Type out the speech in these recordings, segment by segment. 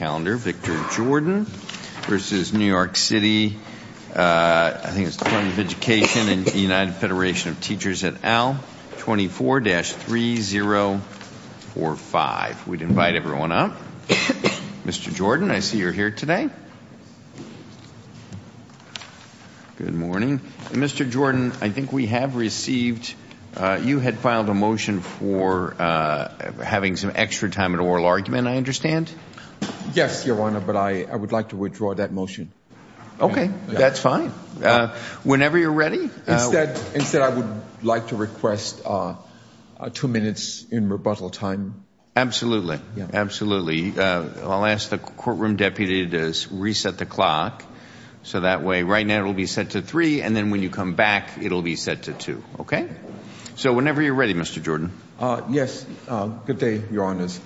and the United Federation of Teachers et al, 24-3045. We'd invite everyone up. Mr. Jordan, I see you're here today. Good morning. Mr. Jordan, I think we have received, you had a motion for having some extra time in oral argument, I understand? Yes, Your Honor, but I would like to withdraw that motion. Okay, that's fine. Whenever you're ready. Instead, I would like to request two minutes in rebuttal time. Absolutely, absolutely. I'll ask the courtroom deputy to reset the clock so that way right now it will be set to three and then when you come back it'll be set to two, okay? So whenever you're ready, Mr. Jordan. Yes, good day, Your Honors.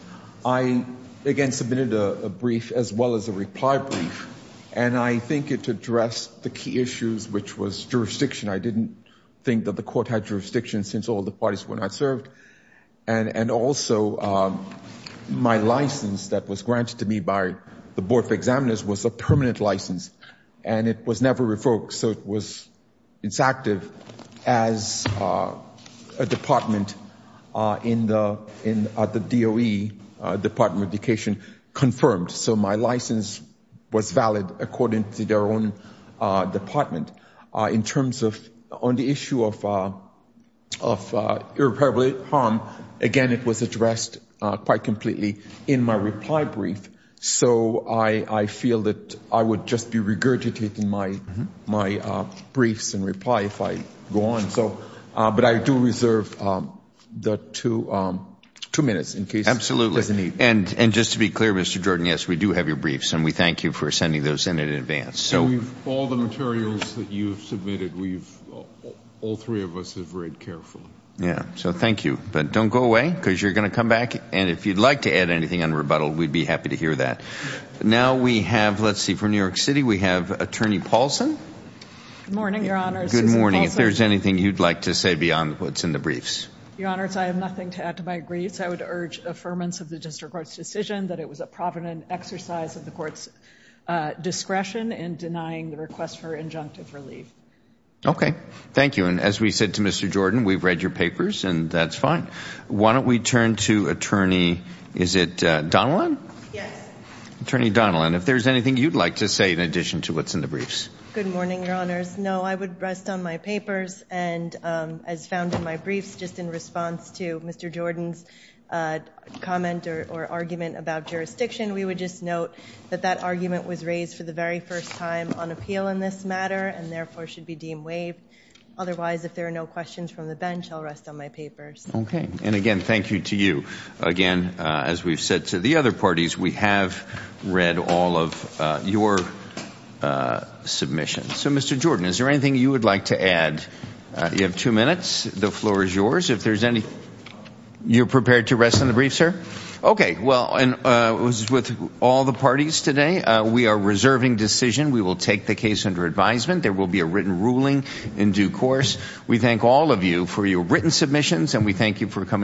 I again submitted a brief as well as a reply brief and I think it addressed the key issues which was jurisdiction. I didn't think that the court had jurisdiction since all the parties were not served and also my license that was granted to me by the Board of Examiners was a department in the DOE Department of Education confirmed. So my license was valid according to their own department. In terms of on the issue of irreparable harm, again, it was addressed quite completely in my reply brief. So I feel that I would just be regurgitating my briefs and reply if I go on. But I do reserve the two minutes in case there's a need. Absolutely. And just to be clear, Mr. Jordan, yes, we do have your briefs and we thank you for sending those in in advance. So all the materials that you've submitted, all three of us have read carefully. Yeah, so thank you. But don't go away because you're gonna come back and if you'd like to add anything on rebuttal, we'd be happy to hear that. Now we have, let's see, from New York City, we have Attorney Paulson. Good morning, Your Honors. Good morning. If there's anything you'd like to say beyond what's in the briefs. Your Honors, I have nothing to add to my briefs. I would urge affirmance of the district court's decision that it was a provident exercise of the court's discretion in denying the request for injunctive relief. Okay, thank you. And as we said to Mr. Jordan, we've read your papers and that's fine. Why don't we turn to Attorney, is it Donilon? Yes. Attorney Donilon, if there's anything you'd like to say in addition to what's in the briefs. Good morning, Your Honors. No, I would rest on my papers and as found in my briefs, just in response to Mr. Jordan's comment or argument about jurisdiction, we would just note that that argument was raised for the very first time on appeal in this matter and therefore should be deemed waived. Otherwise, if there are no questions from the bench, I'll rest on my papers. Okay, and again, thank you to you. Again, as we've said to the other parties, we have read all of your submissions. So Mr. Jordan, is there anything you would like to add? You have two minutes. The floor is yours. If there's any... You're prepared to rest on the briefs, sir? Okay, well, and with all the parties today, we are reserving decision. We will take the case under advisement. There will be a written ruling in due course. We thank all of you for your written submissions and we thank you for coming.